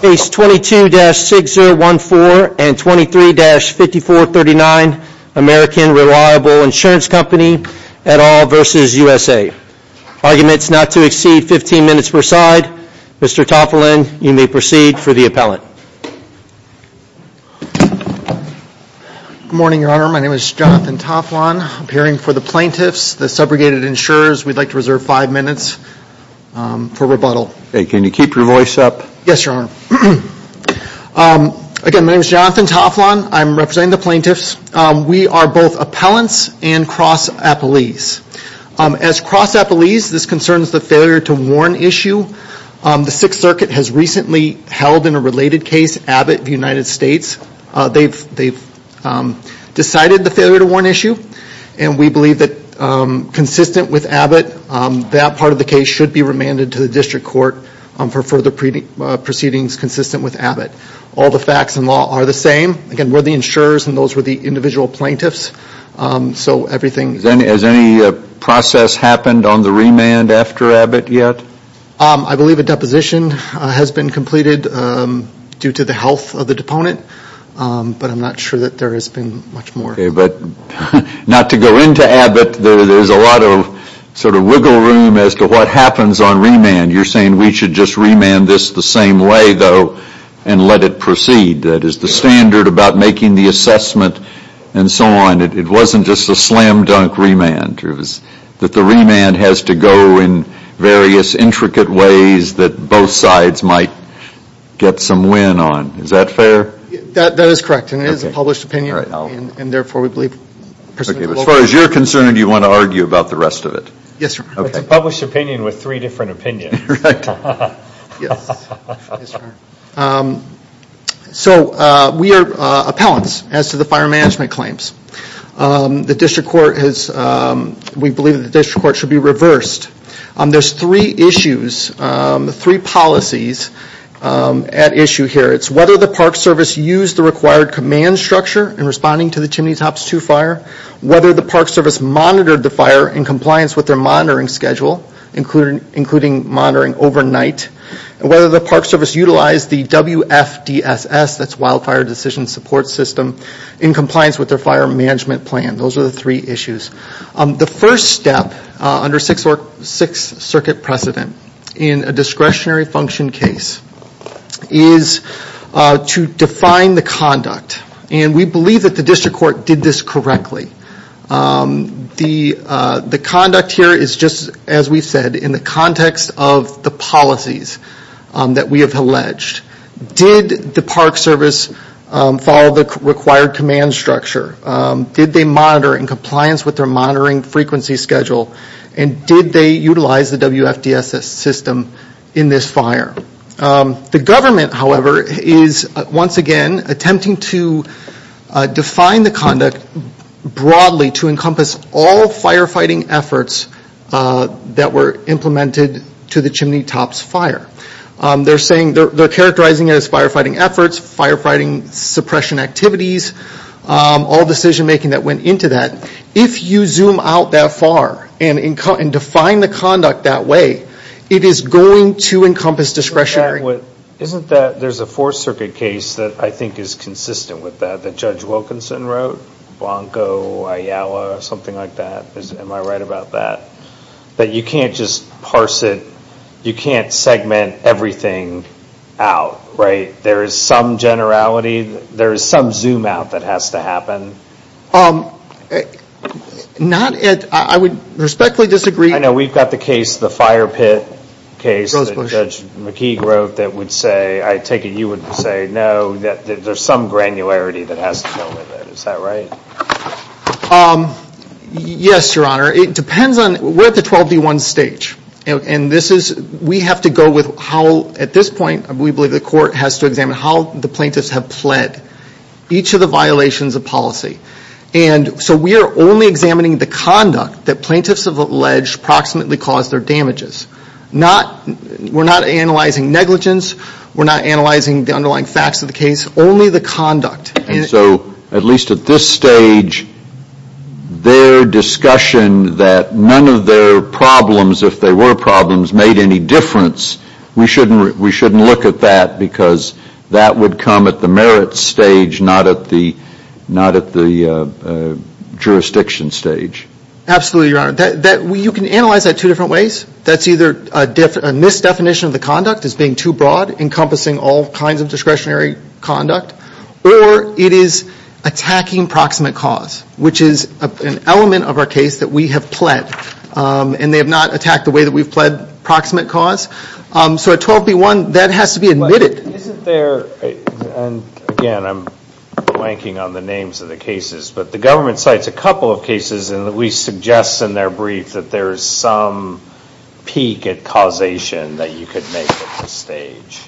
Case 22-6014 and 23-5439, American Reliable Insurance Company et al. v. USA. Arguments not to exceed 15 minutes per side. Mr. Toflon, you may proceed for the appellate. Good morning, Your Honor. My name is Jonathan Toflon. I'm appearing for the plaintiffs, the subrogated insurers. We'd like to reserve five minutes for rebuttal. Can you keep your voice up? Yes, Your Honor. Again, my name is Jonathan Toflon. I'm representing the plaintiffs. We are both appellants and cross-appellees. As cross-appellees, this concerns the failure to warn issue. The Sixth Circuit has recently held in a related case Abbott v. United States. They've decided the failure to warn issue, and we believe that consistent with Abbott, that part of the case should be remanded to the district court for further proceedings consistent with Abbott. All the facts and law are the same. Again, we're the insurers, and those were the individual plaintiffs. Has any process happened on the remand after Abbott yet? I believe a deposition has been completed due to the health of the deponent, but I'm not sure that there has been much more. Okay, but not to go into Abbott. There's a lot of sort of wiggle room as to what happens on remand. You're saying we should just remand this the same way, though, and let it proceed. That is the standard about making the assessment and so on. It wasn't just a slam-dunk remand. The remand has to go in various intricate ways that both sides might get some win on. Is that fair? That is correct, and it is a published opinion. As far as you're concerned, do you want to argue about the rest of it? Yes, sir. It's a published opinion with three different opinions. We are appellants as to the fire management claims. We believe the district court should be reversed. There's three issues, three policies at issue here. It's whether the Park Service used the required command structure in responding to the Chimney Tops 2 fire, whether the Park Service monitored the fire in compliance with their monitoring schedule, including monitoring overnight, and whether the Park Service utilized the WFDSS, that's Wildfire Decision Support System, in compliance with their fire management plan. Those are the three issues. The first step under Sixth Circuit precedent in a discretionary function case is to define the conduct. We believe that the district court did this correctly. The conduct here is just, as we've said, in the context of the policies that we have alleged. Did the Park Service follow the required command structure? Did they monitor in compliance with their monitoring frequency schedule, and did they utilize the WFDSS system in this fire? The government, however, is once again attempting to define the conduct broadly to encompass all firefighting efforts that were implemented to the Chimney Tops fire. They're saying, they're characterizing it as firefighting efforts, firefighting suppression activities, all decision making that went into that. If you zoom out that far and define the conduct that way, it is going to encompass discretionary. Isn't that, there's a Fourth Circuit case that I think is consistent with that, that Judge Wilkinson wrote, Blanco, Ayala, something like that. Am I right about that? That you can't just parse it, you can't segment everything out, right? There is some generality, there is some zoom out that has to happen. Not at, I would respectfully disagree. I know we've got the case, the fire pit case that Judge McKee wrote that would say, I take it you would say no, that there's some granularity that has to go with it. Is that right? Yes, Your Honor. It depends on, we're at the 12D1 stage. And this is, we have to go with how, at this point, we believe the court has to examine how the plaintiffs have pled. Each of the violations of policy. And so we are only examining the conduct that plaintiffs have alleged approximately caused their damages. Not, we're not analyzing negligence, we're not analyzing the underlying facts of the case, only the conduct. And so, at least at this stage, their discussion that none of their problems, if they were problems, made any difference. We shouldn't look at that because that would come at the merits stage, not at the jurisdiction stage. Absolutely, Your Honor. You can analyze that two different ways. That's either a misdefinition of the conduct as being too broad, encompassing all kinds of discretionary conduct. Or it is attacking proximate cause, which is an element of our case that we have pled. And they have not attacked the way that we've pled proximate cause. So at 12D1, that has to be admitted. Isn't there, and again, I'm blanking on the names of the cases. But the government cites a couple of cases, and we suggest in their brief that there is some peak at causation that you could make at this stage.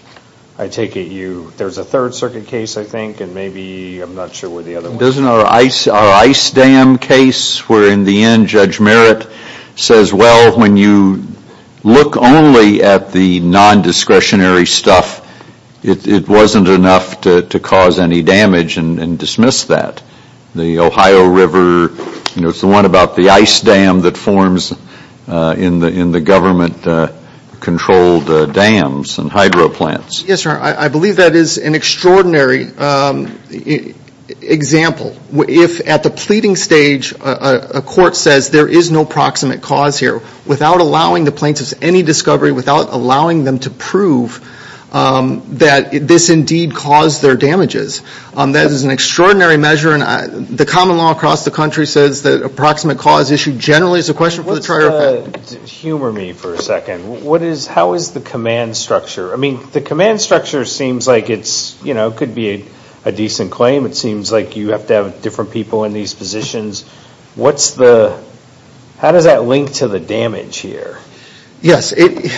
I take it there's a Third Circuit case, I think, and maybe I'm not sure where the other one is. Isn't our ice dam case where in the end Judge Merritt says, well, when you look only at the non-discretionary stuff, it wasn't enough to cause any damage and dismiss that. It's the one about the ice dam that forms in the government-controlled dams and hydro plants. Yes, sir. I believe that is an extraordinary example. If at the pleading stage a court says there is no proximate cause here, without allowing the plaintiffs any discovery, without allowing them to prove that this indeed caused their damages, that is an extraordinary measure. And the common law across the country says that a proximate cause issue generally is a question for the trier effect. Humor me for a second. How is the command structure? I mean, the command structure seems like it could be a decent claim. It seems like you have to have different people in these positions. How does that link to the damage here? Yes.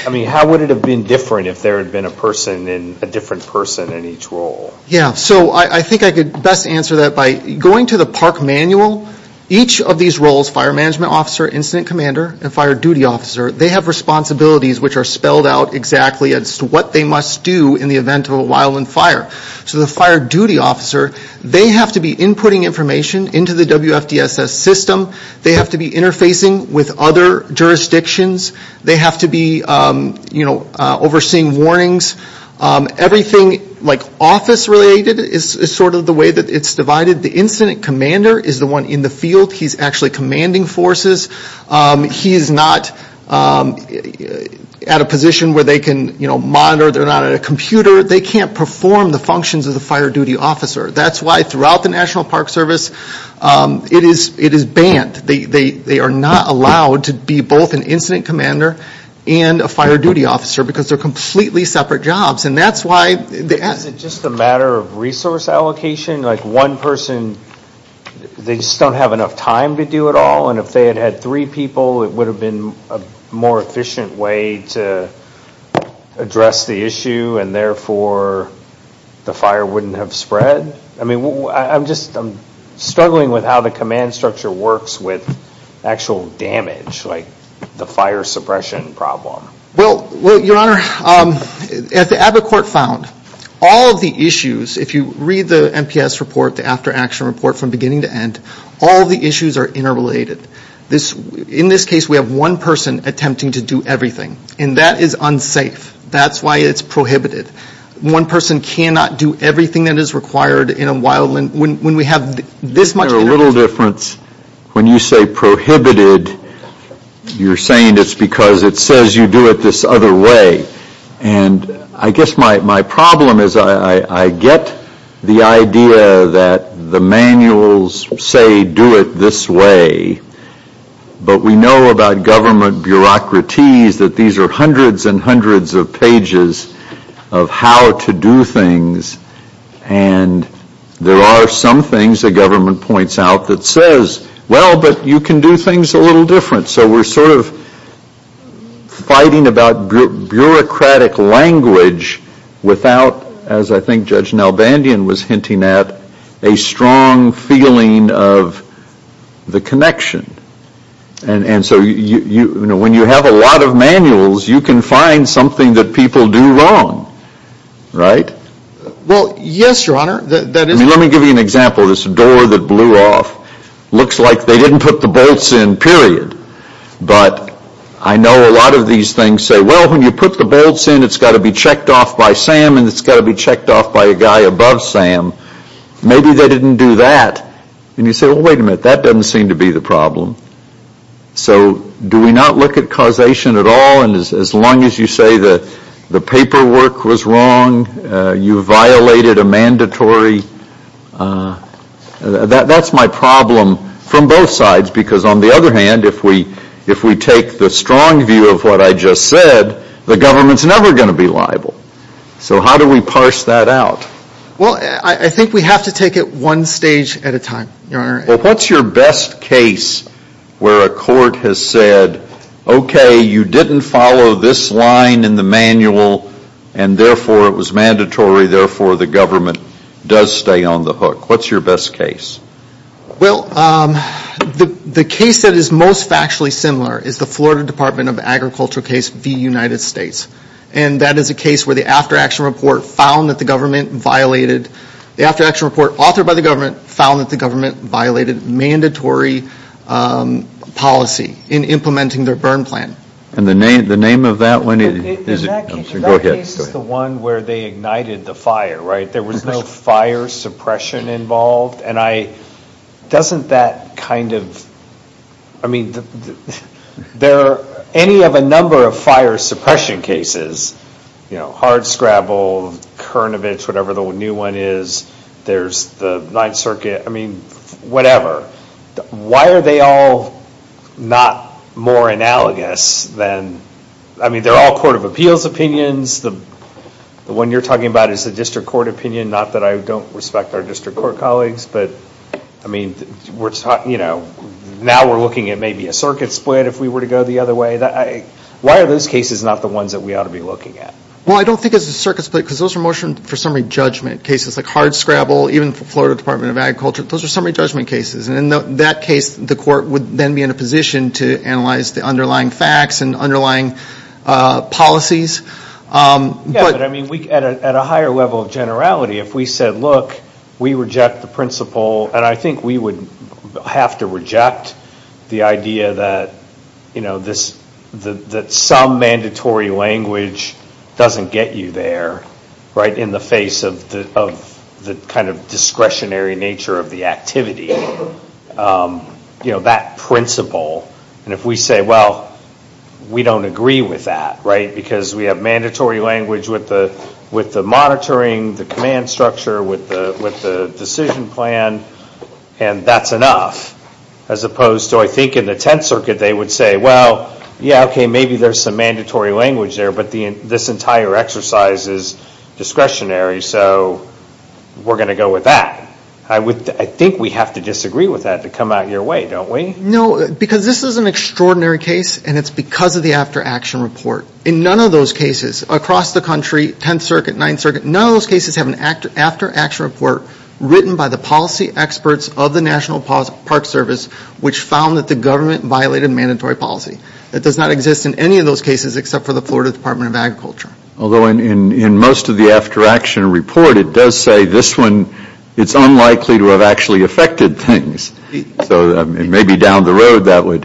I mean, how would it have been different if there had been a different person in each role? Yes. So I think I could best answer that by going to the park manual. Each of these roles, fire management officer, incident commander, and fire duty officer, they have responsibilities which are spelled out exactly as to what they must do in the event of a wildland fire. So the fire duty officer, they have to be inputting information into the WFDSS system. They have to be interfacing with other jurisdictions. They have to be overseeing warnings. Everything office related is sort of the way that it's divided. The incident commander is the one in the field. He's actually commanding forces. He is not at a position where they can monitor. They're not at a computer. They can't perform the functions of the fire duty officer. That's why throughout the National Park Service, it is banned. They are not allowed to be both an incident commander and a fire duty officer because they're completely separate jobs. Is it just a matter of resource allocation? Like one person, they just don't have enough time to do it all, and if they had had three people, it would have been a more efficient way to address the issue, and therefore the fire wouldn't have spread? I'm struggling with how the command structure works with actual damage, like the fire suppression problem. Well, Your Honor, as the ABA court found, all of the issues, if you read the NPS report, the after action report from beginning to end, all of the issues are interrelated. In this case, we have one person attempting to do everything, and that is unsafe. That's why it's prohibited. One person cannot do everything that is required in a wildland when we have this much interrelation. There's a little difference. When you say prohibited, you're saying it's because it says you do it this other way, and I guess my problem is I get the idea that the manuals say do it this way, but we know about government bureaucraties that these are hundreds and hundreds of pages of how to do things, and there are some things the government points out that says, well, but you can do things a little different, so we're sort of fighting about bureaucratic language without, as I think Judge Nalbandian was hinting at, a strong feeling of the connection, and so when you have a lot of manuals, you can find something that people do wrong, right? Well, yes, Your Honor. Let me give you an example of this door that blew off. Looks like they didn't put the bolts in, period. But I know a lot of these things say, well, when you put the bolts in, it's got to be checked off by Sam, and it's got to be checked off by a guy above Sam. Maybe they didn't do that. And you say, well, wait a minute. That doesn't seem to be the problem. So do we not look at causation at all? And as long as you say the paperwork was wrong, you violated a mandatory, that's my problem from both sides, because on the other hand, if we take the strong view of what I just said, the government's never going to be liable. So how do we parse that out? Well, I think we have to take it one stage at a time, Your Honor. Well, what's your best case where a court has said, okay, you didn't follow this line in the manual, and therefore it was mandatory, therefore the government does stay on the hook? What's your best case? Well, the case that is most factually similar is the Florida Department of Agriculture case v. United States. And that is a case where the after-action report found that the government violated, the after-action report authored by the government found that the government violated mandatory policy in implementing their burn plan. And the name of that one is? That case is the one where they ignited the fire, right? There was no fire suppression involved. Doesn't that kind of, I mean, there are any of a number of fire suppression cases, you know, hardscrabble, Kernovich, whatever the new one is, there's the Ninth Circuit, I mean, whatever. Why are they all not more analogous than, I mean, they're all court of appeals opinions, the one you're talking about is the district court opinion, not that I don't respect our district court colleagues, but, I mean, we're talking, you know, now we're looking at maybe a circuit split if we were to go the other way. Why are those cases not the ones that we ought to be looking at? Well, I don't think it's a circuit split because those are mostly for summary judgment cases, like hardscrabble, even the Florida Department of Agriculture, those are summary judgment cases. And in that case, the court would then be in a position to analyze the underlying facts and underlying policies. Yeah, but, I mean, at a higher level of generality, if we said, look, we reject the principle, and I think we would have to reject the idea that, you know, that some mandatory language doesn't get you there, right, in the face of the kind of discretionary nature of the activity, you know, that principle, and if we say, well, we don't agree with that, right, because we have mandatory language with the monitoring, the command structure, with the decision plan, and that's enough, as opposed to, I think, in the Tenth Circuit, they would say, well, yeah, okay, maybe there's some mandatory language there, but this entire exercise is discretionary, so we're going to go with that. I think we have to disagree with that to come out your way, don't we? No, because this is an extraordinary case, and it's because of the after-action report. In none of those cases across the country, Tenth Circuit, Ninth Circuit, none of those cases have an after-action report written by the policy experts of the National Park Service which found that the government violated mandatory policy. That does not exist in any of those cases except for the Florida Department of Agriculture. Although in most of the after-action report, it does say this one, it's unlikely to have actually affected things. So maybe down the road that would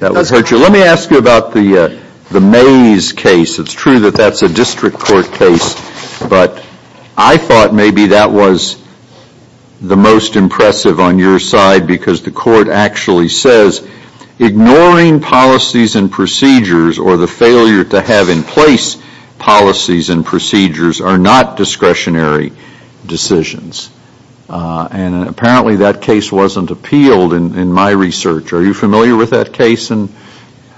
hurt you. Let me ask you about the Mays case. It's true that that's a district court case, but I thought maybe that was the most impressive on your side because the court actually says ignoring policies and procedures or the failure to have in place policies and procedures are not discretionary decisions. And apparently that case wasn't appealed in my research. Are you familiar with that case?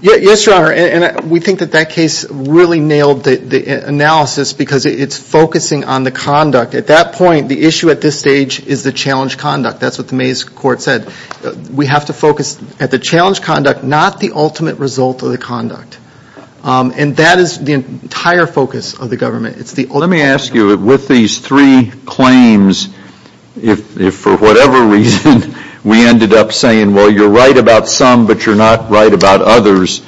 Yes, Your Honor, and we think that that case really nailed the analysis because it's focusing on the conduct. At that point, the issue at this stage is the challenge conduct. That's what the Mays court said. We have to focus at the challenge conduct, not the ultimate result of the conduct. And that is the entire focus of the government. Let me ask you, with these three claims, if for whatever reason we ended up saying, well, you're right about some, but you're not right about others,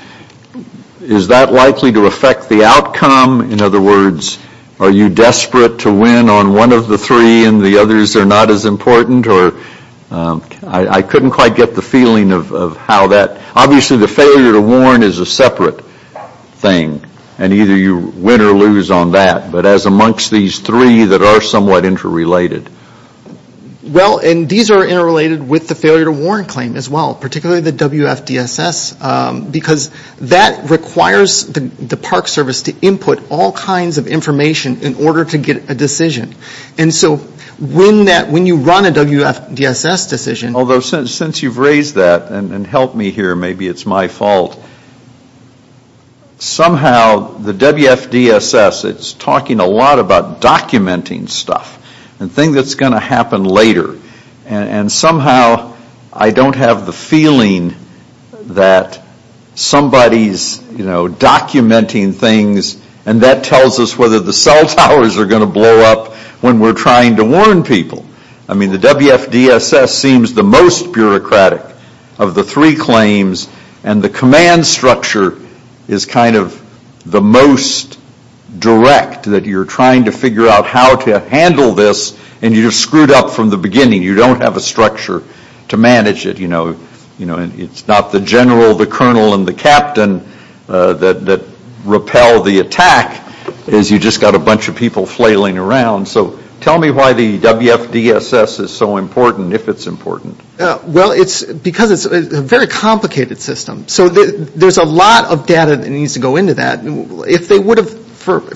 is that likely to affect the outcome? In other words, are you desperate to win on one of the three and the others are not as important? I couldn't quite get the feeling of how that, obviously the failure to warn is a separate thing, and either you win or lose on that, but as amongst these three that are somewhat interrelated. Well, and these are interrelated with the failure to warn claim as well, particularly the WFDSS, because that requires the Park Service to input all kinds of information in order to get a decision. And so when you run a WFDSS decision. Although since you've raised that and helped me here, maybe it's my fault. Somehow the WFDSS, it's talking a lot about documenting stuff and things that's going to happen later. And somehow I don't have the feeling that somebody's, you know, documenting things and that tells us whether the cell towers are going to blow up when we're trying to warn people. I mean, the WFDSS seems the most bureaucratic of the three claims and the command structure is kind of the most direct that you're trying to figure out how to handle this and you're screwed up from the beginning. You don't have a structure to manage it. You know, it's not the general, the colonel, and the captain that repel the attack. It's you just got a bunch of people flailing around. So tell me why the WFDSS is so important, if it's important. Well, it's because it's a very complicated system. So there's a lot of data that needs to go into that. If they would have,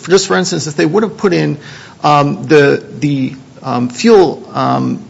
just for instance, if they would have put in the fuel,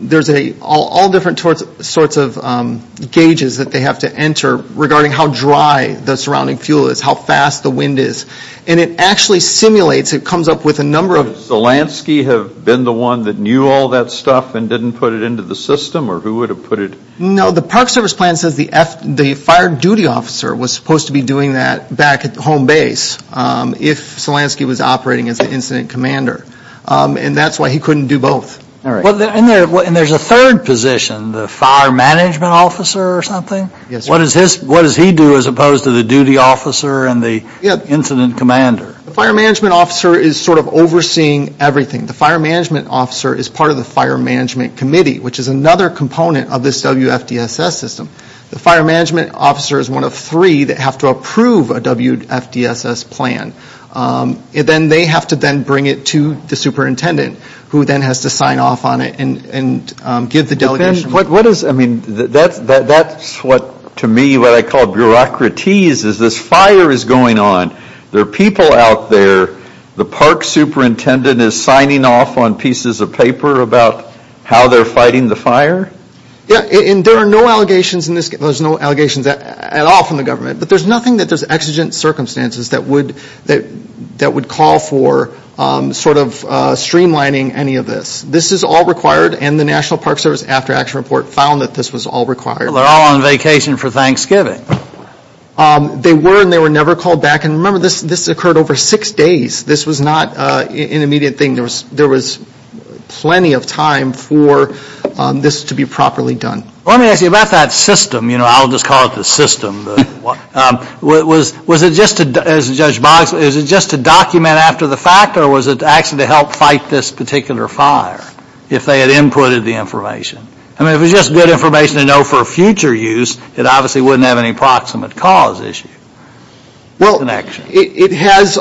there's all different sorts of gauges that they have to enter regarding how dry the surrounding fuel is, how fast the wind is. And it actually simulates, it comes up with a number of... Does Zelensky have been the one that knew all that stuff and didn't put it into the system? Or who would have put it... No, the Park Service plan says the fire duty officer was supposed to be doing that back at the home base if Zelensky was operating as the incident commander. And that's why he couldn't do both. And there's a third position, the fire management officer or something? Yes, sir. What does he do as opposed to the duty officer and the incident commander? The fire management officer is sort of overseeing everything. The fire management officer is part of the fire management committee, which is another component of this WFDSS system. The fire management officer is one of three that have to approve a WFDSS plan. And then they have to then bring it to the superintendent, who then has to sign off on it and give the delegation... What is... I mean, that's what, to me, what I call bureaucratese is this fire is going on. There are people out there. The park superintendent is signing off on pieces of paper about how they're fighting the fire? Yeah, and there are no allegations in this... There's no allegations at all from the government. But there's nothing that there's exigent circumstances that would call for sort of streamlining any of this. This is all required, and the National Park Service after-action report found that this was all required. They're all on vacation for Thanksgiving. They were, and they were never called back. And remember, this occurred over six days. This was not an immediate thing. There was plenty of time for this to be properly done. Let me ask you about that system. You know, I'll just call it the system. Was it just to, as Judge Boggs, is it just to document after the fact, or was it actually to help fight this particular fire if they had inputted the information? I mean, if it was just good information to know for future use, it obviously wouldn't have any proximate cause issue. Well, it has...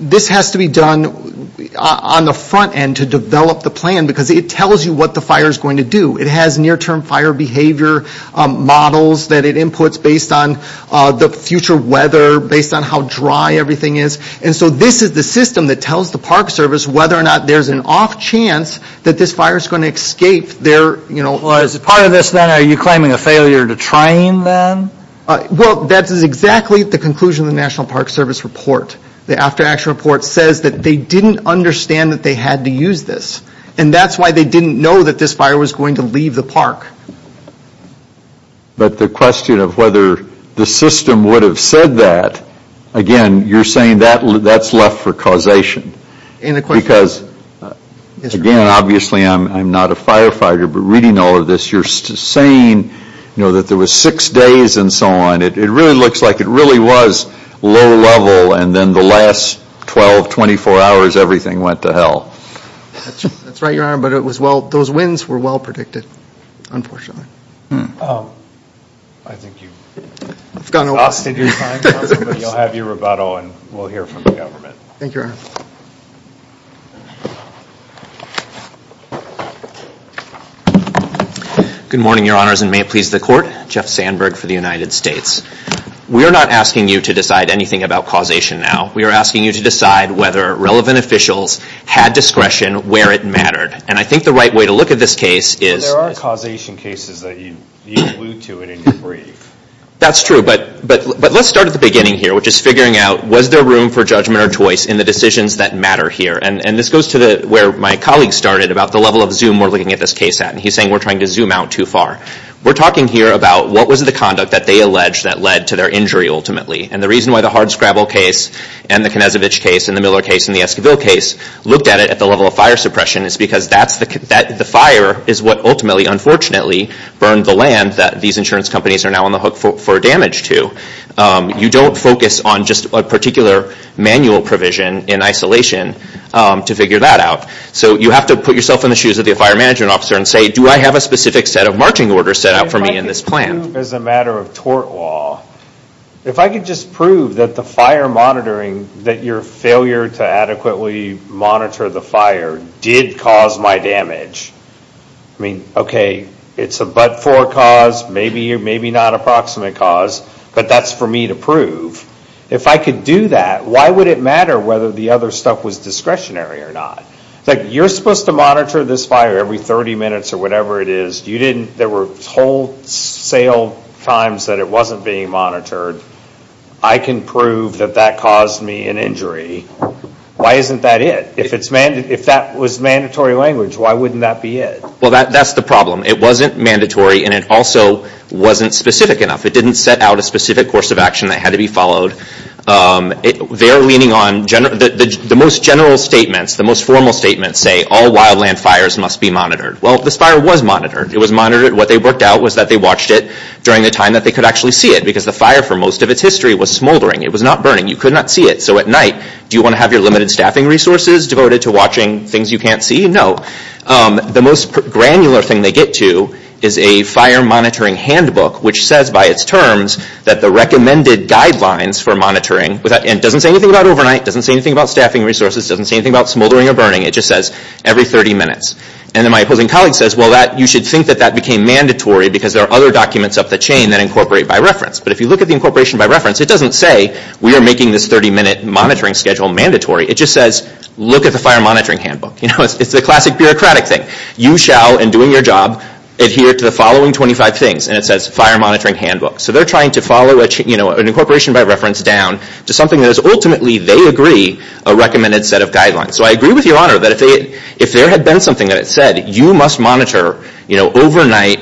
This has to be done on the front end to develop the plan because it tells you what the fire is going to do. It has near-term fire behavior models that it inputs based on the future weather, based on how dry everything is. And so this is the system that tells the Park Service whether or not there's an off chance that this fire is going to escape their... Well, as a part of this then, are you claiming a failure to train then? Well, that is exactly the conclusion of the National Park Service report. The after-action report says that they didn't understand that they had to use this. And that's why they didn't know that this fire was going to leave the park. But the question of whether the system would have said that, again, you're saying that's left for causation. Because, again, obviously I'm not a firefighter, but reading all of this, you're saying that there were six days and so on. It really looks like it really was low-level and then the last 12, 24 hours everything went to hell. That's right, Your Honor, but it was well... Those wins were well-predicted, unfortunately. I think you've exhausted your time, but you'll have your rebuttal and we'll hear from the government. Thank you, Your Honor. Good morning, Your Honors, and may it please the Court. Jeff Sandberg for the United States. We are not asking you to decide anything about causation now. We are asking you to decide whether relevant officials had discretion where it mattered. And I think the right way to look at this case is... There are causation cases that you allude to it in your brief. That's true, but let's start at the beginning here, which is figuring out was there room for judgment or choice in the decisions that matter here. And this goes to where my colleague started about the level of zoom we're looking at this case at. And he's saying we're trying to zoom out too far. We're talking here about what was the conduct that they alleged that led to their injury ultimately. And the reason why the hardscrabble case and the Knezovich case and the Miller case and the Esquivel case looked at it at the level of fire suppression is because the fire is what ultimately, unfortunately, burned the land that these insurance companies are now on the hook for damage to. You don't focus on just a particular manual provision in isolation to figure that out. So you have to put yourself in the shoes of the fire management officer and say, do I have a specific set of marching orders set out for me in this plan? If I could just prove as a matter of tort law, if I could just prove that the fire monitoring, that your failure to adequately monitor the fire did cause my damage. I mean, okay, it's a but for cause, maybe or maybe not approximate cause, but that's for me to prove. If I could do that, why would it matter whether the other stuff was discretionary or not? It's like you're supposed to monitor this fire every 30 minutes or whatever it is. You didn't, there were whole sale times that it wasn't being monitored. I can prove that that caused me an injury. Why isn't that it? If that was mandatory language, why wouldn't that be it? Well, that's the problem. It wasn't mandatory and it also wasn't specific enough. It didn't set out a specific course of action that had to be followed. They're leaning on, the most general statements, the most formal statements say, all wildland fires must be monitored. Well, this fire was monitored. It was monitored. What they worked out was that they watched it during the time that they could actually see it because the fire for most of its history was smoldering. It was not burning. You could not see it. So at night, do you want to have your limited staffing resources devoted to watching things you can't see? No. The most granular thing they get to is a fire monitoring handbook, which says by its terms that the recommended guidelines for monitoring, and it doesn't say anything about overnight. It doesn't say anything about staffing resources. It doesn't say anything about smoldering or burning. It just says every 30 minutes. And then my opposing colleague says, well, you should think that that became mandatory because there are other documents up the chain that incorporate by reference. But if you look at the incorporation by reference, it doesn't say we are making this 30-minute monitoring schedule mandatory. It just says look at the fire monitoring handbook. It's the classic bureaucratic thing. You shall, in doing your job, adhere to the following 25 things. And it says fire monitoring handbook. So they're trying to follow an incorporation by reference down to something that is ultimately, they agree, a recommended set of guidelines. So I agree with Your Honor that if there had been something that said you must monitor overnight,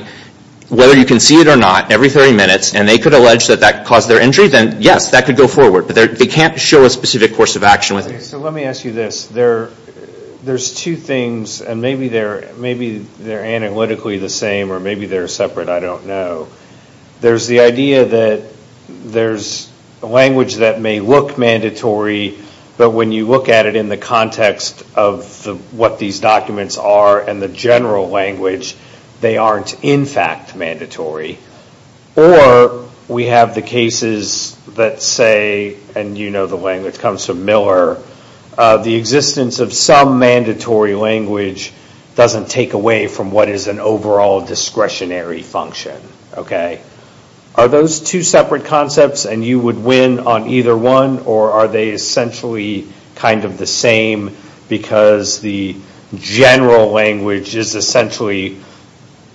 whether you can see it or not, every 30 minutes, and they could allege that that caused their injury, then yes, that could go forward. But they can't show a specific course of action with it. Okay. So let me ask you this. There's two things, and maybe they're analytically the same or maybe they're separate. I don't know. There's the idea that there's language that may look mandatory, but when you look at it in the context of what these documents are and the general language, they aren't in fact mandatory. Or we have the cases that say, and you know the language comes from Miller, the existence of some mandatory language doesn't take away from what is an overall discretionary function. Okay. Are those two separate concepts, and you would win on either one, or are they essentially kind of the same because the general language is essentially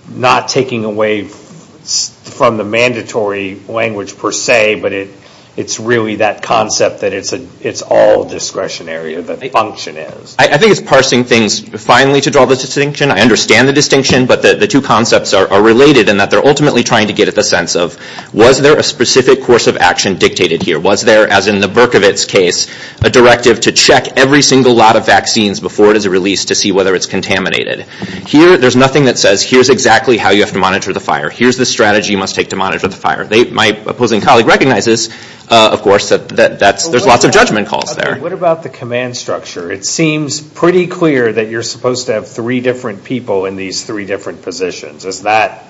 not taking away from the mandatory language per se, but it's really that concept that it's all discretionary or the function is? I think it's parsing things finally to draw the distinction. I understand the distinction, but the two concepts are related in that they're ultimately trying to get at the sense of was there a specific course of action dictated here? Was there, as in the Berkovits case, a directive to check every single lot of vaccines before it is released to see whether it's contaminated? Here, there's nothing that says here's exactly how you have to monitor the fire. Here's the strategy you must take to monitor the fire. My opposing colleague recognizes, of course, that there's lots of judgment calls there. Okay. What about the command structure? It seems pretty clear that you're supposed to have three different people in these three different positions. Is that,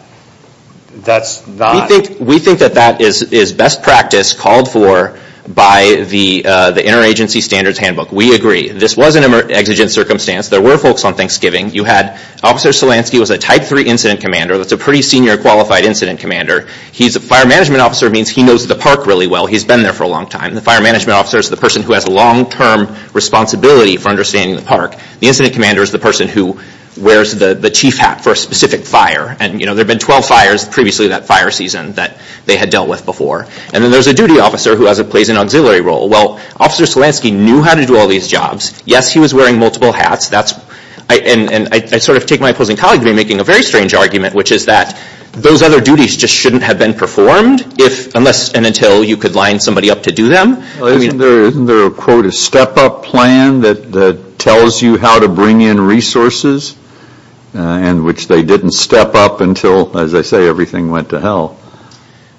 that's not? We think that that is best practice called for by the interagency standards handbook. We agree. This was an exigent circumstance. There were folks on Thanksgiving. You had Officer Solansky who was a type three incident commander. That's a pretty senior qualified incident commander. He's a fire management officer. It means he knows the park really well. He's been there for a long time. The fire management officer is the person who has a long-term responsibility for understanding the park. The incident commander is the person who wears the chief hat for a specific fire. There have been 12 fires previously that fire season that they had dealt with before. Then there's a duty officer who plays an auxiliary role. Well, Officer Solansky knew how to do all these jobs. Yes, he was wearing multiple hats. I sort of take my opposing colleague to be making a very strange argument, which is that those other duties just shouldn't have been performed unless and until you could line somebody up to do them. Isn't there a, quote, a step-up plan that tells you how to bring in resources in which they didn't step up until, as I say, everything went to hell?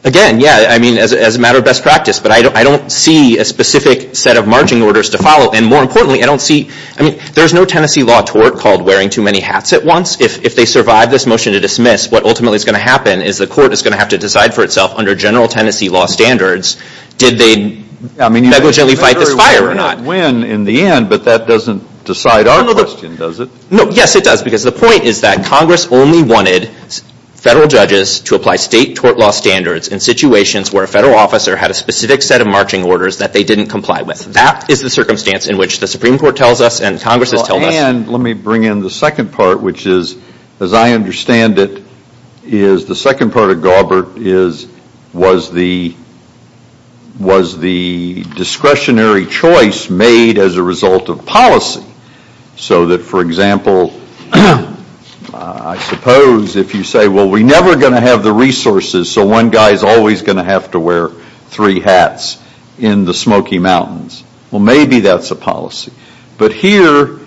Again, yes. I mean, as a matter of best practice. But I don't see a specific set of marching orders to follow. And more importantly, I don't see, I mean, there's no Tennessee law tort called wearing too many hats at once. If they survive this motion to dismiss, what ultimately is going to happen is the court is going to have to decide for itself under general Tennessee law standards, did they negligently fight this fire or not? I mean, it's a very win-win in the end, but that doesn't decide our question, does it? No, yes, it does. Because the point is that Congress only wanted federal judges to apply state tort law standards in situations where a federal officer had a specific set of marching orders that they didn't comply with. That is the circumstance in which the Supreme Court tells us and Congress has told us. Well, and let me bring in the second part, which is, as I understand it, is the second part of Gaubert is, was the discretionary choice made as a result of policy? So that, for example, I suppose if you say, well, we're never going to have the resources, so one guy is always going to have to wear three hats in the Smoky Mountains. Well, maybe that's a policy. But here,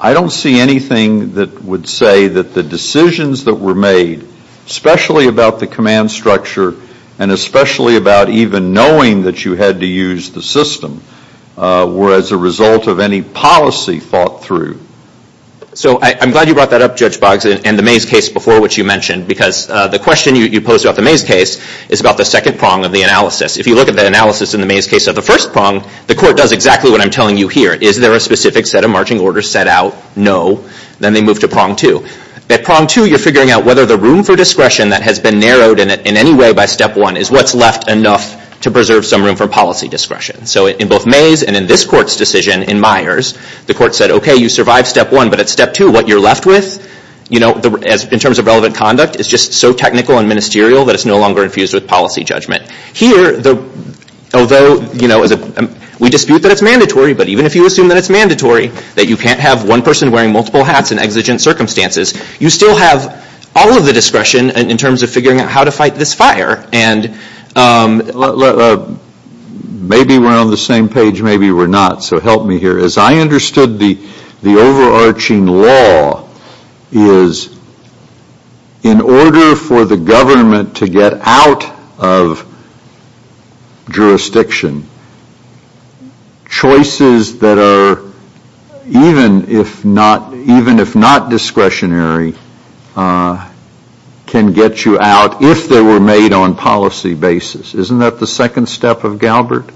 I don't see anything that would say that the decisions that were made, especially about the command structure and especially about even knowing that you had to use the system, were as a result of any policy fought through. So I'm glad you brought that up, Judge Boggs, and the Mays case before which you mentioned, because the question you posed about the Mays case is about the second prong of the analysis. If you look at the analysis in the Mays case of the first prong, the court does exactly what I'm telling you here. Is there a specific set of marching orders set out? No. Then they move to prong two. At prong two, you're figuring out whether the room for discretion that has been narrowed in any way by step one is what's left enough to preserve some room for policy discretion. So in both Mays and in this court's decision in Myers, the court said, okay, you survived step one, but at step two, what you're left with in terms of relevant conduct is just so technical and ministerial that it's no longer infused with policy judgment. Here, although we dispute that it's mandatory, but even if you assume that it's mandatory, that you can't have one person wearing multiple hats in exigent circumstances, you still have all of the discretion in terms of figuring out how to fight this fire. Maybe we're on the same page, maybe we're not, so help me here. As I understood the overarching law is in order for the government to get out of jurisdiction, choices that are even if not discretionary can get you out if they were made on policy basis. Isn't that the second step of Galbert?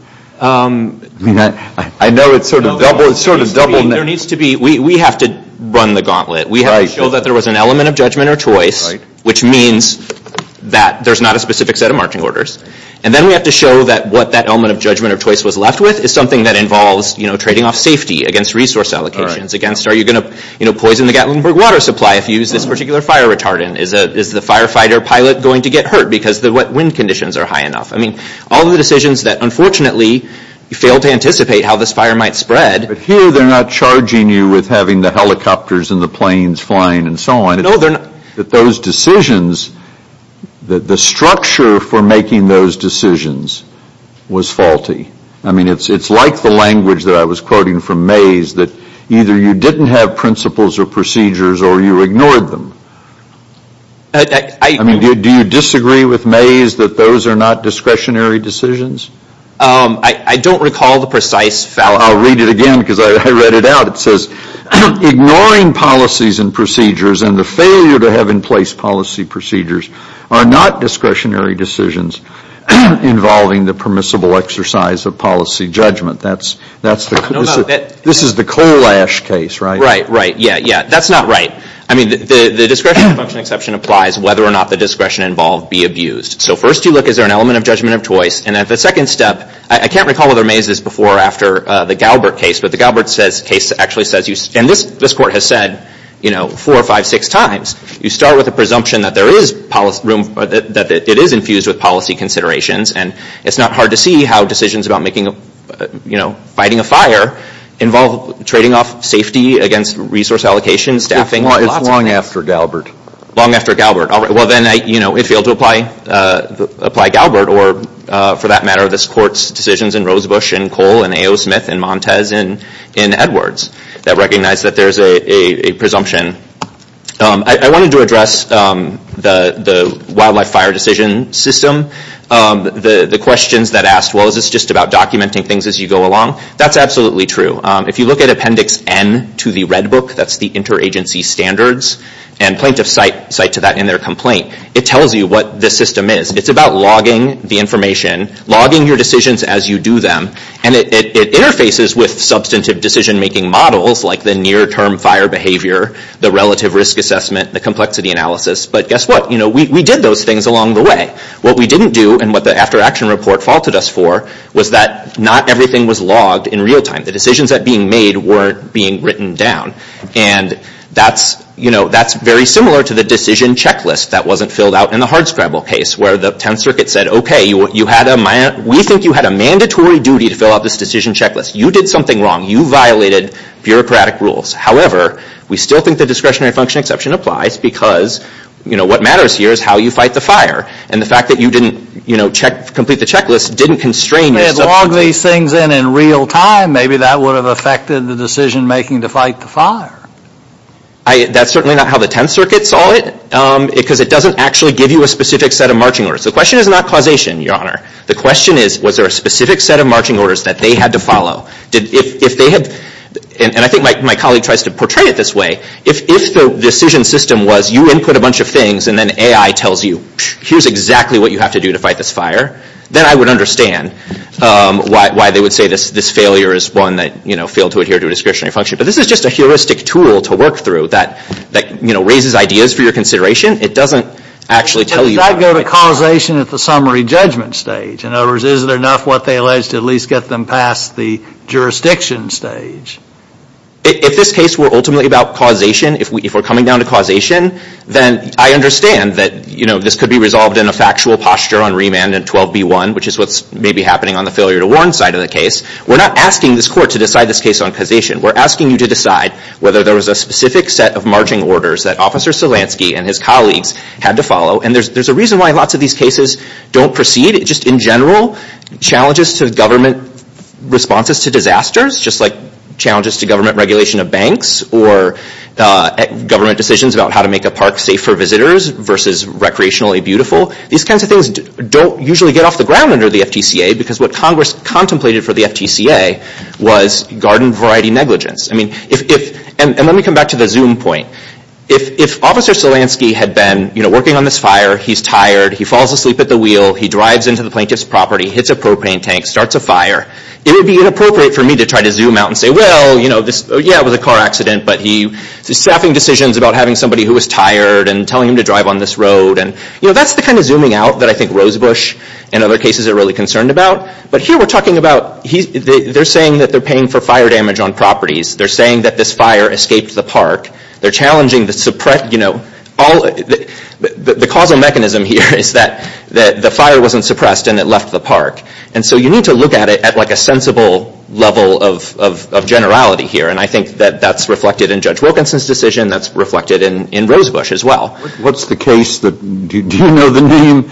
We have to run the gauntlet. We have to show that there was an element of judgment or choice, which means that there's not a specific set of marching orders. And then we have to show that what that element of judgment or choice was left with is something that involves trading off safety against resource allocations. Are you going to poison the Gatlinburg water supply if you use this particular fire retardant? Is the firefighter pilot going to get hurt because the wind conditions are high enough? I mean, all of the decisions that unfortunately you fail to anticipate how this fire might spread. But here they're not charging you with having the helicopters and the planes flying and so on. No, they're not. But those decisions, the structure for making those decisions was faulty. I mean, it's like the language that I was quoting from Mays, that either you didn't have principles or procedures or you ignored them. I mean, do you disagree with Mays that those are not discretionary decisions? I don't recall the precise fact. I'll read it again because I read it out. It says, ignoring policies and procedures and the failure to have in place policy procedures are not discretionary decisions involving the permissible exercise of policy judgment. This is the coal ash case, right? Right, right, yeah, yeah. That's not right. I mean, the discretionary function exception applies whether or not the discretion involved be abused. So first you look, is there an element of judgment of choice? And then the second step, I can't recall whether Mays is before or after the Galbert case, but the Galbert case actually says, and this court has said four or five, six times, you start with a presumption that it is infused with policy considerations. And it's not hard to see how decisions about fighting a fire involve trading off safety against resource allocation, staffing. It's long after Galbert. Long after Galbert. All right, well, then it failed to apply Galbert or, for that matter, this court's decisions in Rosebush and Cole and A.O. Smith and Montez and Edwards that recognize that there's a presumption. I wanted to address the wildlife fire decision system. The questions that asked, well, is this just about documenting things as you go along? That's absolutely true. If you look at Appendix N to the Red Book, that's the interagency standards, and plaintiffs cite to that in their complaint, it tells you what this system is. It's about logging the information, logging your decisions as you do them, and it interfaces with substantive decision-making models like the near-term fire behavior, the relative risk assessment, the complexity analysis. But guess what? We did those things along the way. What we didn't do and what the after-action report faulted us for was that not everything was logged in real time. The decisions that were being made weren't being written down, and that's very similar to the decision checklist that wasn't filled out in the hard scribble case where the Tenth Circuit said, okay, we think you had a mandatory duty to fill out this decision checklist. You did something wrong. You violated bureaucratic rules. However, we still think the discretionary function exception applies because what matters here is how you fight the fire, and the fact that you didn't complete the checklist didn't constrain you. If they had logged these things in in real time, maybe that would have affected the decision-making to fight the fire. That's certainly not how the Tenth Circuit saw it because it doesn't actually give you a specific set of marching orders. The question is not causation, Your Honor. The question is, was there a specific set of marching orders that they had to follow? And I think my colleague tries to portray it this way. If the decision system was you input a bunch of things and then AI tells you, here's exactly what you have to do to fight this fire, then I would understand why they would say this failure is one that, you know, failed to adhere to a discretionary function. But this is just a heuristic tool to work through that, you know, raises ideas for your consideration. It doesn't actually tell you. Did that go to causation at the summary judgment stage? In other words, is it enough what they alleged to at least get them past the jurisdiction stage? If this case were ultimately about causation, if we're coming down to causation, then I understand that, you know, this could be resolved in a factual posture on remand in 12B1, which is what's maybe happening on the failure to warrant side of the case. We're not asking this court to decide this case on causation. We're asking you to decide whether there was a specific set of marching orders that Officer Solansky and his colleagues had to follow. And there's a reason why lots of these cases don't proceed. Just in general, challenges to government responses to disasters, just like challenges to government regulation of banks or government decisions about how to make a park safe for visitors versus recreationally beautiful, these kinds of things don't usually get off the ground under the FTCA because what Congress contemplated for the FTCA was garden variety negligence. And let me come back to the zoom point. If Officer Solansky had been, you know, working on this fire, he's tired, he falls asleep at the wheel, he drives into the plaintiff's property, hits a propane tank, starts a fire, it would be inappropriate for me to try to zoom out and say, well, you know, yeah, it was a car accident, but he was staffing decisions about having somebody who was tired and telling him to drive on this road. And, you know, that's the kind of zooming out that I think Rosebush and other cases are really concerned about. But here we're talking about, they're saying that they're paying for fire damage on properties. They're saying that this fire escaped the park. They're challenging the suppression, you know, the causal mechanism here is that the fire wasn't suppressed and it left the park. And so you need to look at it at like a sensible level of generality here. And I think that that's reflected in Judge Wilkinson's decision, that's reflected in Rosebush as well. What's the case that, do you know the name?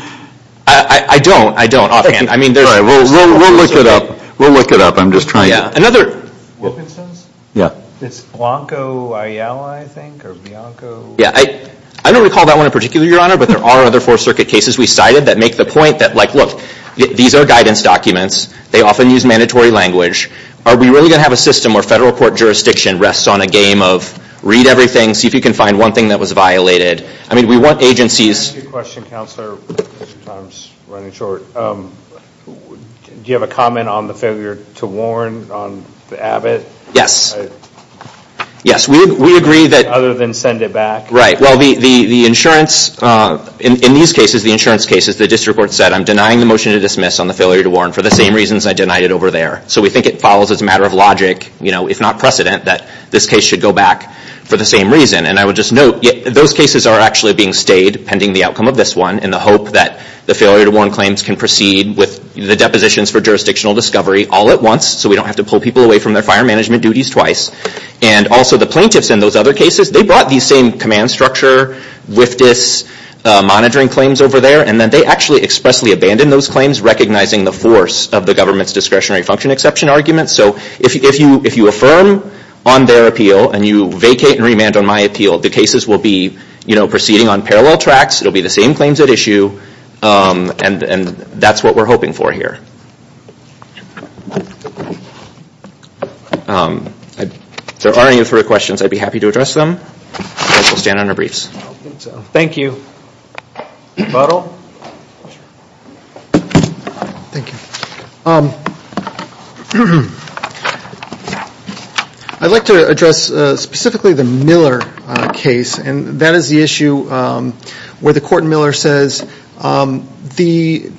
I don't, I don't offhand. All right, we'll look it up. We'll look it up. I'm just trying to. Wilkinson's? Yeah. It's Blanco Ayala, I think, or Blanco. Yeah, I don't recall that one in particular, Your Honor, but there are other Fourth Circuit cases we cited that make the point that, like, look, these are guidance documents. They often use mandatory language. Are we really going to have a system where federal court jurisdiction rests on a game of read everything, see if you can find one thing that was violated? I mean, we want agencies. I have a question, Counselor. Time's running short. Do you have a comment on the failure to warn on Abbott? Yes. Yes, we agree that. Other than send it back. Right, well, the insurance, in these cases, the insurance cases, the district court said, I'm denying the motion to dismiss on the failure to warn for the same reasons I denied it over there. So we think it follows as a matter of logic, you know, if not precedent, that this case should go back for the same reason. And I would just note, those cases are actually being stayed, pending the outcome of this one, in the hope that the failure to warn claims can proceed with the depositions for jurisdictional discovery all at once, so we don't have to pull people away from their fire management duties twice. And also the plaintiffs in those other cases, they brought these same command structure WFDS monitoring claims over there, and then they actually expressly abandoned those claims, recognizing the force of the government's discretionary function exception argument. So if you affirm on their appeal, and you vacate and remand on my appeal, the cases will be, you know, proceeding on parallel tracks, it will be the same claims at issue, and that's what we're hoping for here. If there are any other questions, I'd be happy to address them. I will stand on our briefs. Thank you. I'd like to address specifically the Miller case, and that is the issue where the court in Miller says the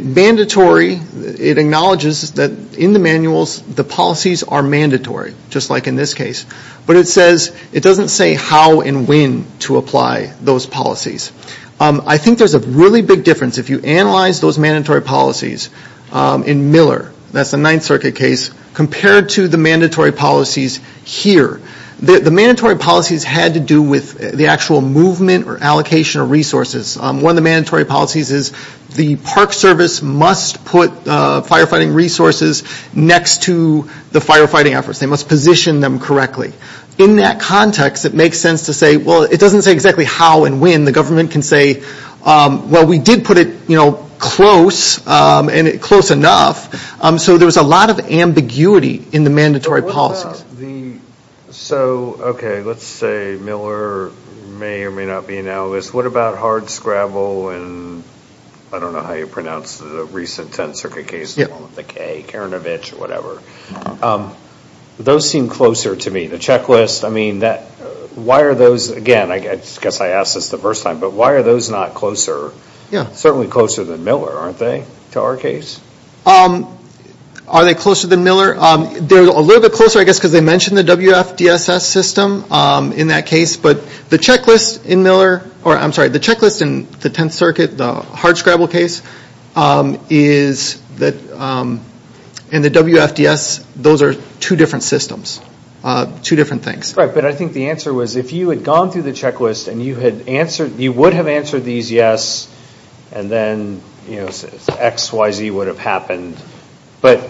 mandatory, it acknowledges that in the manuals, the policies are mandatory, just like in this case. But it doesn't say how and when to apply those policies. I think there's a really big difference. If you analyze those mandatory policies in Miller, that's the Ninth Circuit case, compared to the mandatory policies here, the mandatory policies had to do with the actual movement or allocation of resources. One of the mandatory policies is the Park Service must put firefighting resources next to the firefighting efforts. They must position them correctly. In that context, it makes sense to say, well, it doesn't say exactly how and when. The government can say, well, we did put it, you know, close, and close enough. So there was a lot of ambiguity in the mandatory policies. So, okay, let's say Miller may or may not be an analyst. What about hardscrabble in, I don't know how you pronounce it, the recent Tenth Circuit case, the one with the K, Karanovich, or whatever. Those seem closer to me. The checklist, I mean, why are those, again, I guess I asked this the first time, but why are those not closer, certainly closer than Miller, aren't they, to our case? Are they closer than Miller? They're a little bit closer, I guess, because they mention the WFDSS system in that case. But the checklist in Miller, or I'm sorry, the checklist in the Tenth Circuit, the hardscrabble case, and the WFDSS, those are two different systems, two different things. Right, but I think the answer was if you had gone through the checklist and you would have answered these yes, and then X, Y, Z would have happened. But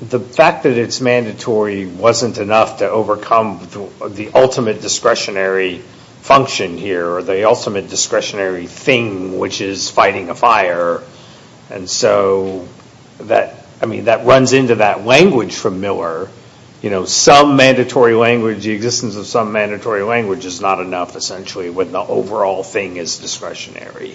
the fact that it's mandatory wasn't enough to overcome the ultimate discretionary function here, or the ultimate discretionary thing, which is fighting a fire. And so that, I mean, that runs into that language from Miller. You know, some mandatory language, the existence of some mandatory language is not enough, essentially, when the overall thing is discretionary.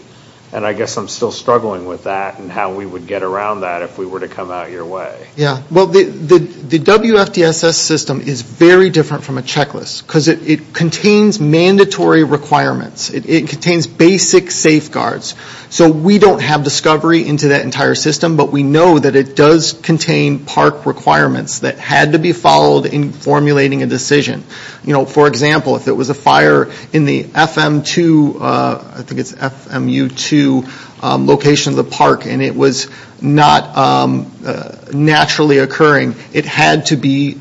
And I guess I'm still struggling with that and how we would get around that if we were to come out your way. Yeah, well, the WFDSS system is very different from a checklist because it contains mandatory requirements. It contains basic safeguards. So we don't have discovery into that entire system, but we know that it does contain park requirements that had to be followed in formulating a decision. You know, for example, if it was a fire in the FM2, I think it's FMU2, location of the park, and it was not naturally occurring, it had to be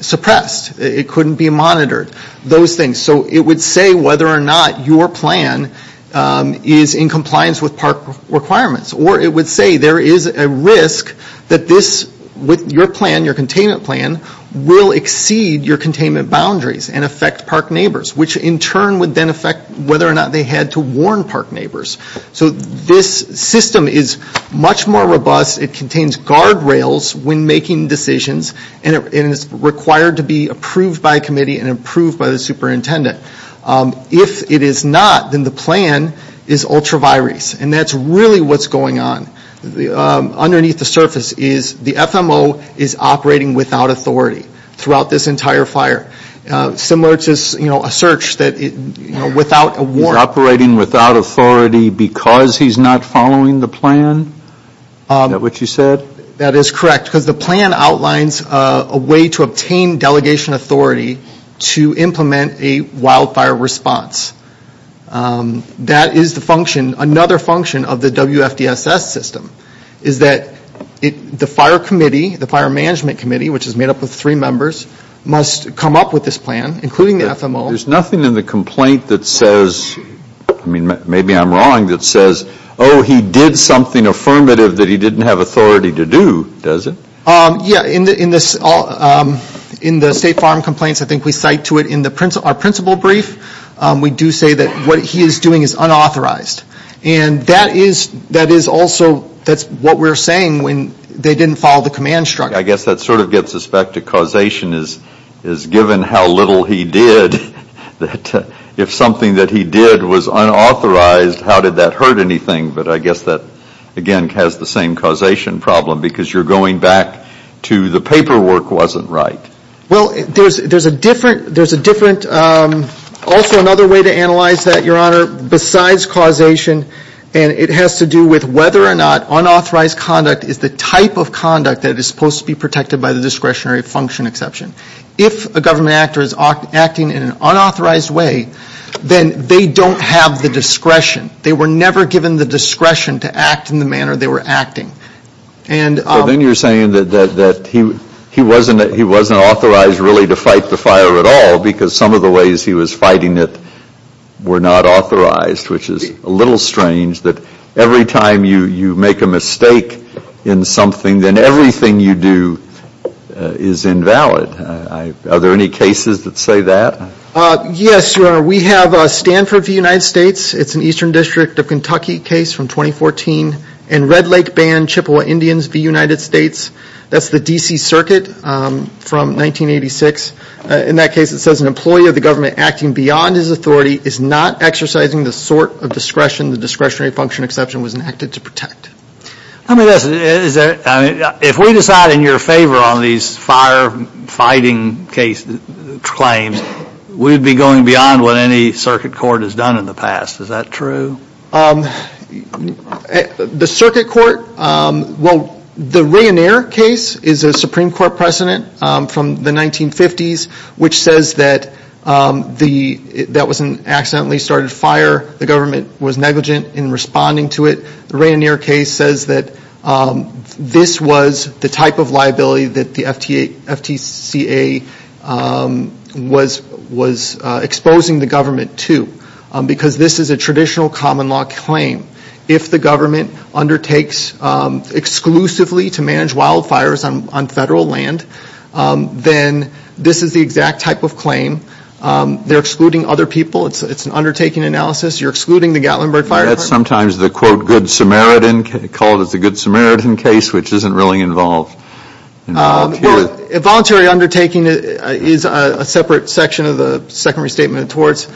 suppressed. It couldn't be monitored, those things. So it would say whether or not your plan is in compliance with park requirements, or it would say there is a risk that this, with your plan, your containment plan, will exceed your containment boundaries and affect park neighbors, which in turn would then affect whether or not they had to warn park neighbors. So this system is much more robust. It contains guardrails when making decisions, and it's required to be approved by a committee and approved by the superintendent. If it is not, then the plan is ultra virus, and that's really what's going on. Underneath the surface is the FMO is operating without authority throughout this entire fire. Similar to, you know, a search that, you know, without a warrant. Is he because he's not following the plan? Is that what you said? That is correct, because the plan outlines a way to obtain delegation authority to implement a wildfire response. That is the function, another function of the WFDSS system, is that the fire committee, the fire management committee, which is made up of three members, must come up with this plan, including the FMO. There's nothing in the complaint that says, I mean, maybe I'm wrong, that says, oh, he did something affirmative that he didn't have authority to do, does it? Yeah, in the State Farm Complaints, I think we cite to it in our principal brief, we do say that what he is doing is unauthorized. And that is also what we're saying when they didn't follow the command structure. I guess that sort of gets us back to causation, is given how little he did, that if something that he did was unauthorized, how did that hurt anything? But I guess that, again, has the same causation problem, because you're going back to the paperwork wasn't right. Well, there's a different, also another way to analyze that, Your Honor, besides causation, and it has to do with whether or not unauthorized conduct is the type of conduct that is supposed to be protected by the discretionary function exception. If a government actor is acting in an unauthorized way, then they don't have the discretion. They were never given the discretion to act in the manner they were acting. So then you're saying that he wasn't authorized really to fight the fire at all, because some of the ways he was fighting it were not authorized, which is a little strange, that every time you make a mistake in something, then everything you do is invalid. Are there any cases that say that? Yes, Your Honor. We have Stanford v. United States. It's an Eastern District of Kentucky case from 2014. And Red Lake Band, Chippewa Indians v. United States. That's the D.C. Circuit from 1986. In that case, it says an employee of the government acting beyond his authority is not exercising the sort of discretion the discretionary function exception was enacted to protect. If we decide in your favor on these fire-fighting claims, we'd be going beyond what any circuit court has done in the past. Is that true? The circuit court, well, the Reunier case is a Supreme Court precedent from the 1950s, which says that that was an accidentally started fire. The government was negligent in responding to it. The Reunier case says that this was the type of liability that the FTCA was exposing the government to, because this is a traditional common law claim. If the government undertakes exclusively to manage wildfires on federal land, then this is the exact type of claim. They're excluding other people. It's an undertaking analysis. You're excluding the Gatlinburg Fire Department. Is that sometimes the, quote, good Samaritan case, which isn't really involved? Well, voluntary undertaking is a separate section of the Second Restatement of the Torts.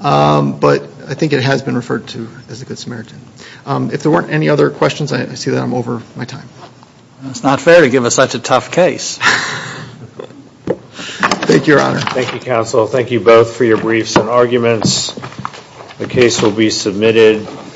But I think it has been referred to as a good Samaritan. If there weren't any other questions, I see that I'm over my time. It's not fair to give us such a tough case. Thank you, Your Honor. Thank you, counsel. Thank you both for your briefs and arguments. The case will be submitted.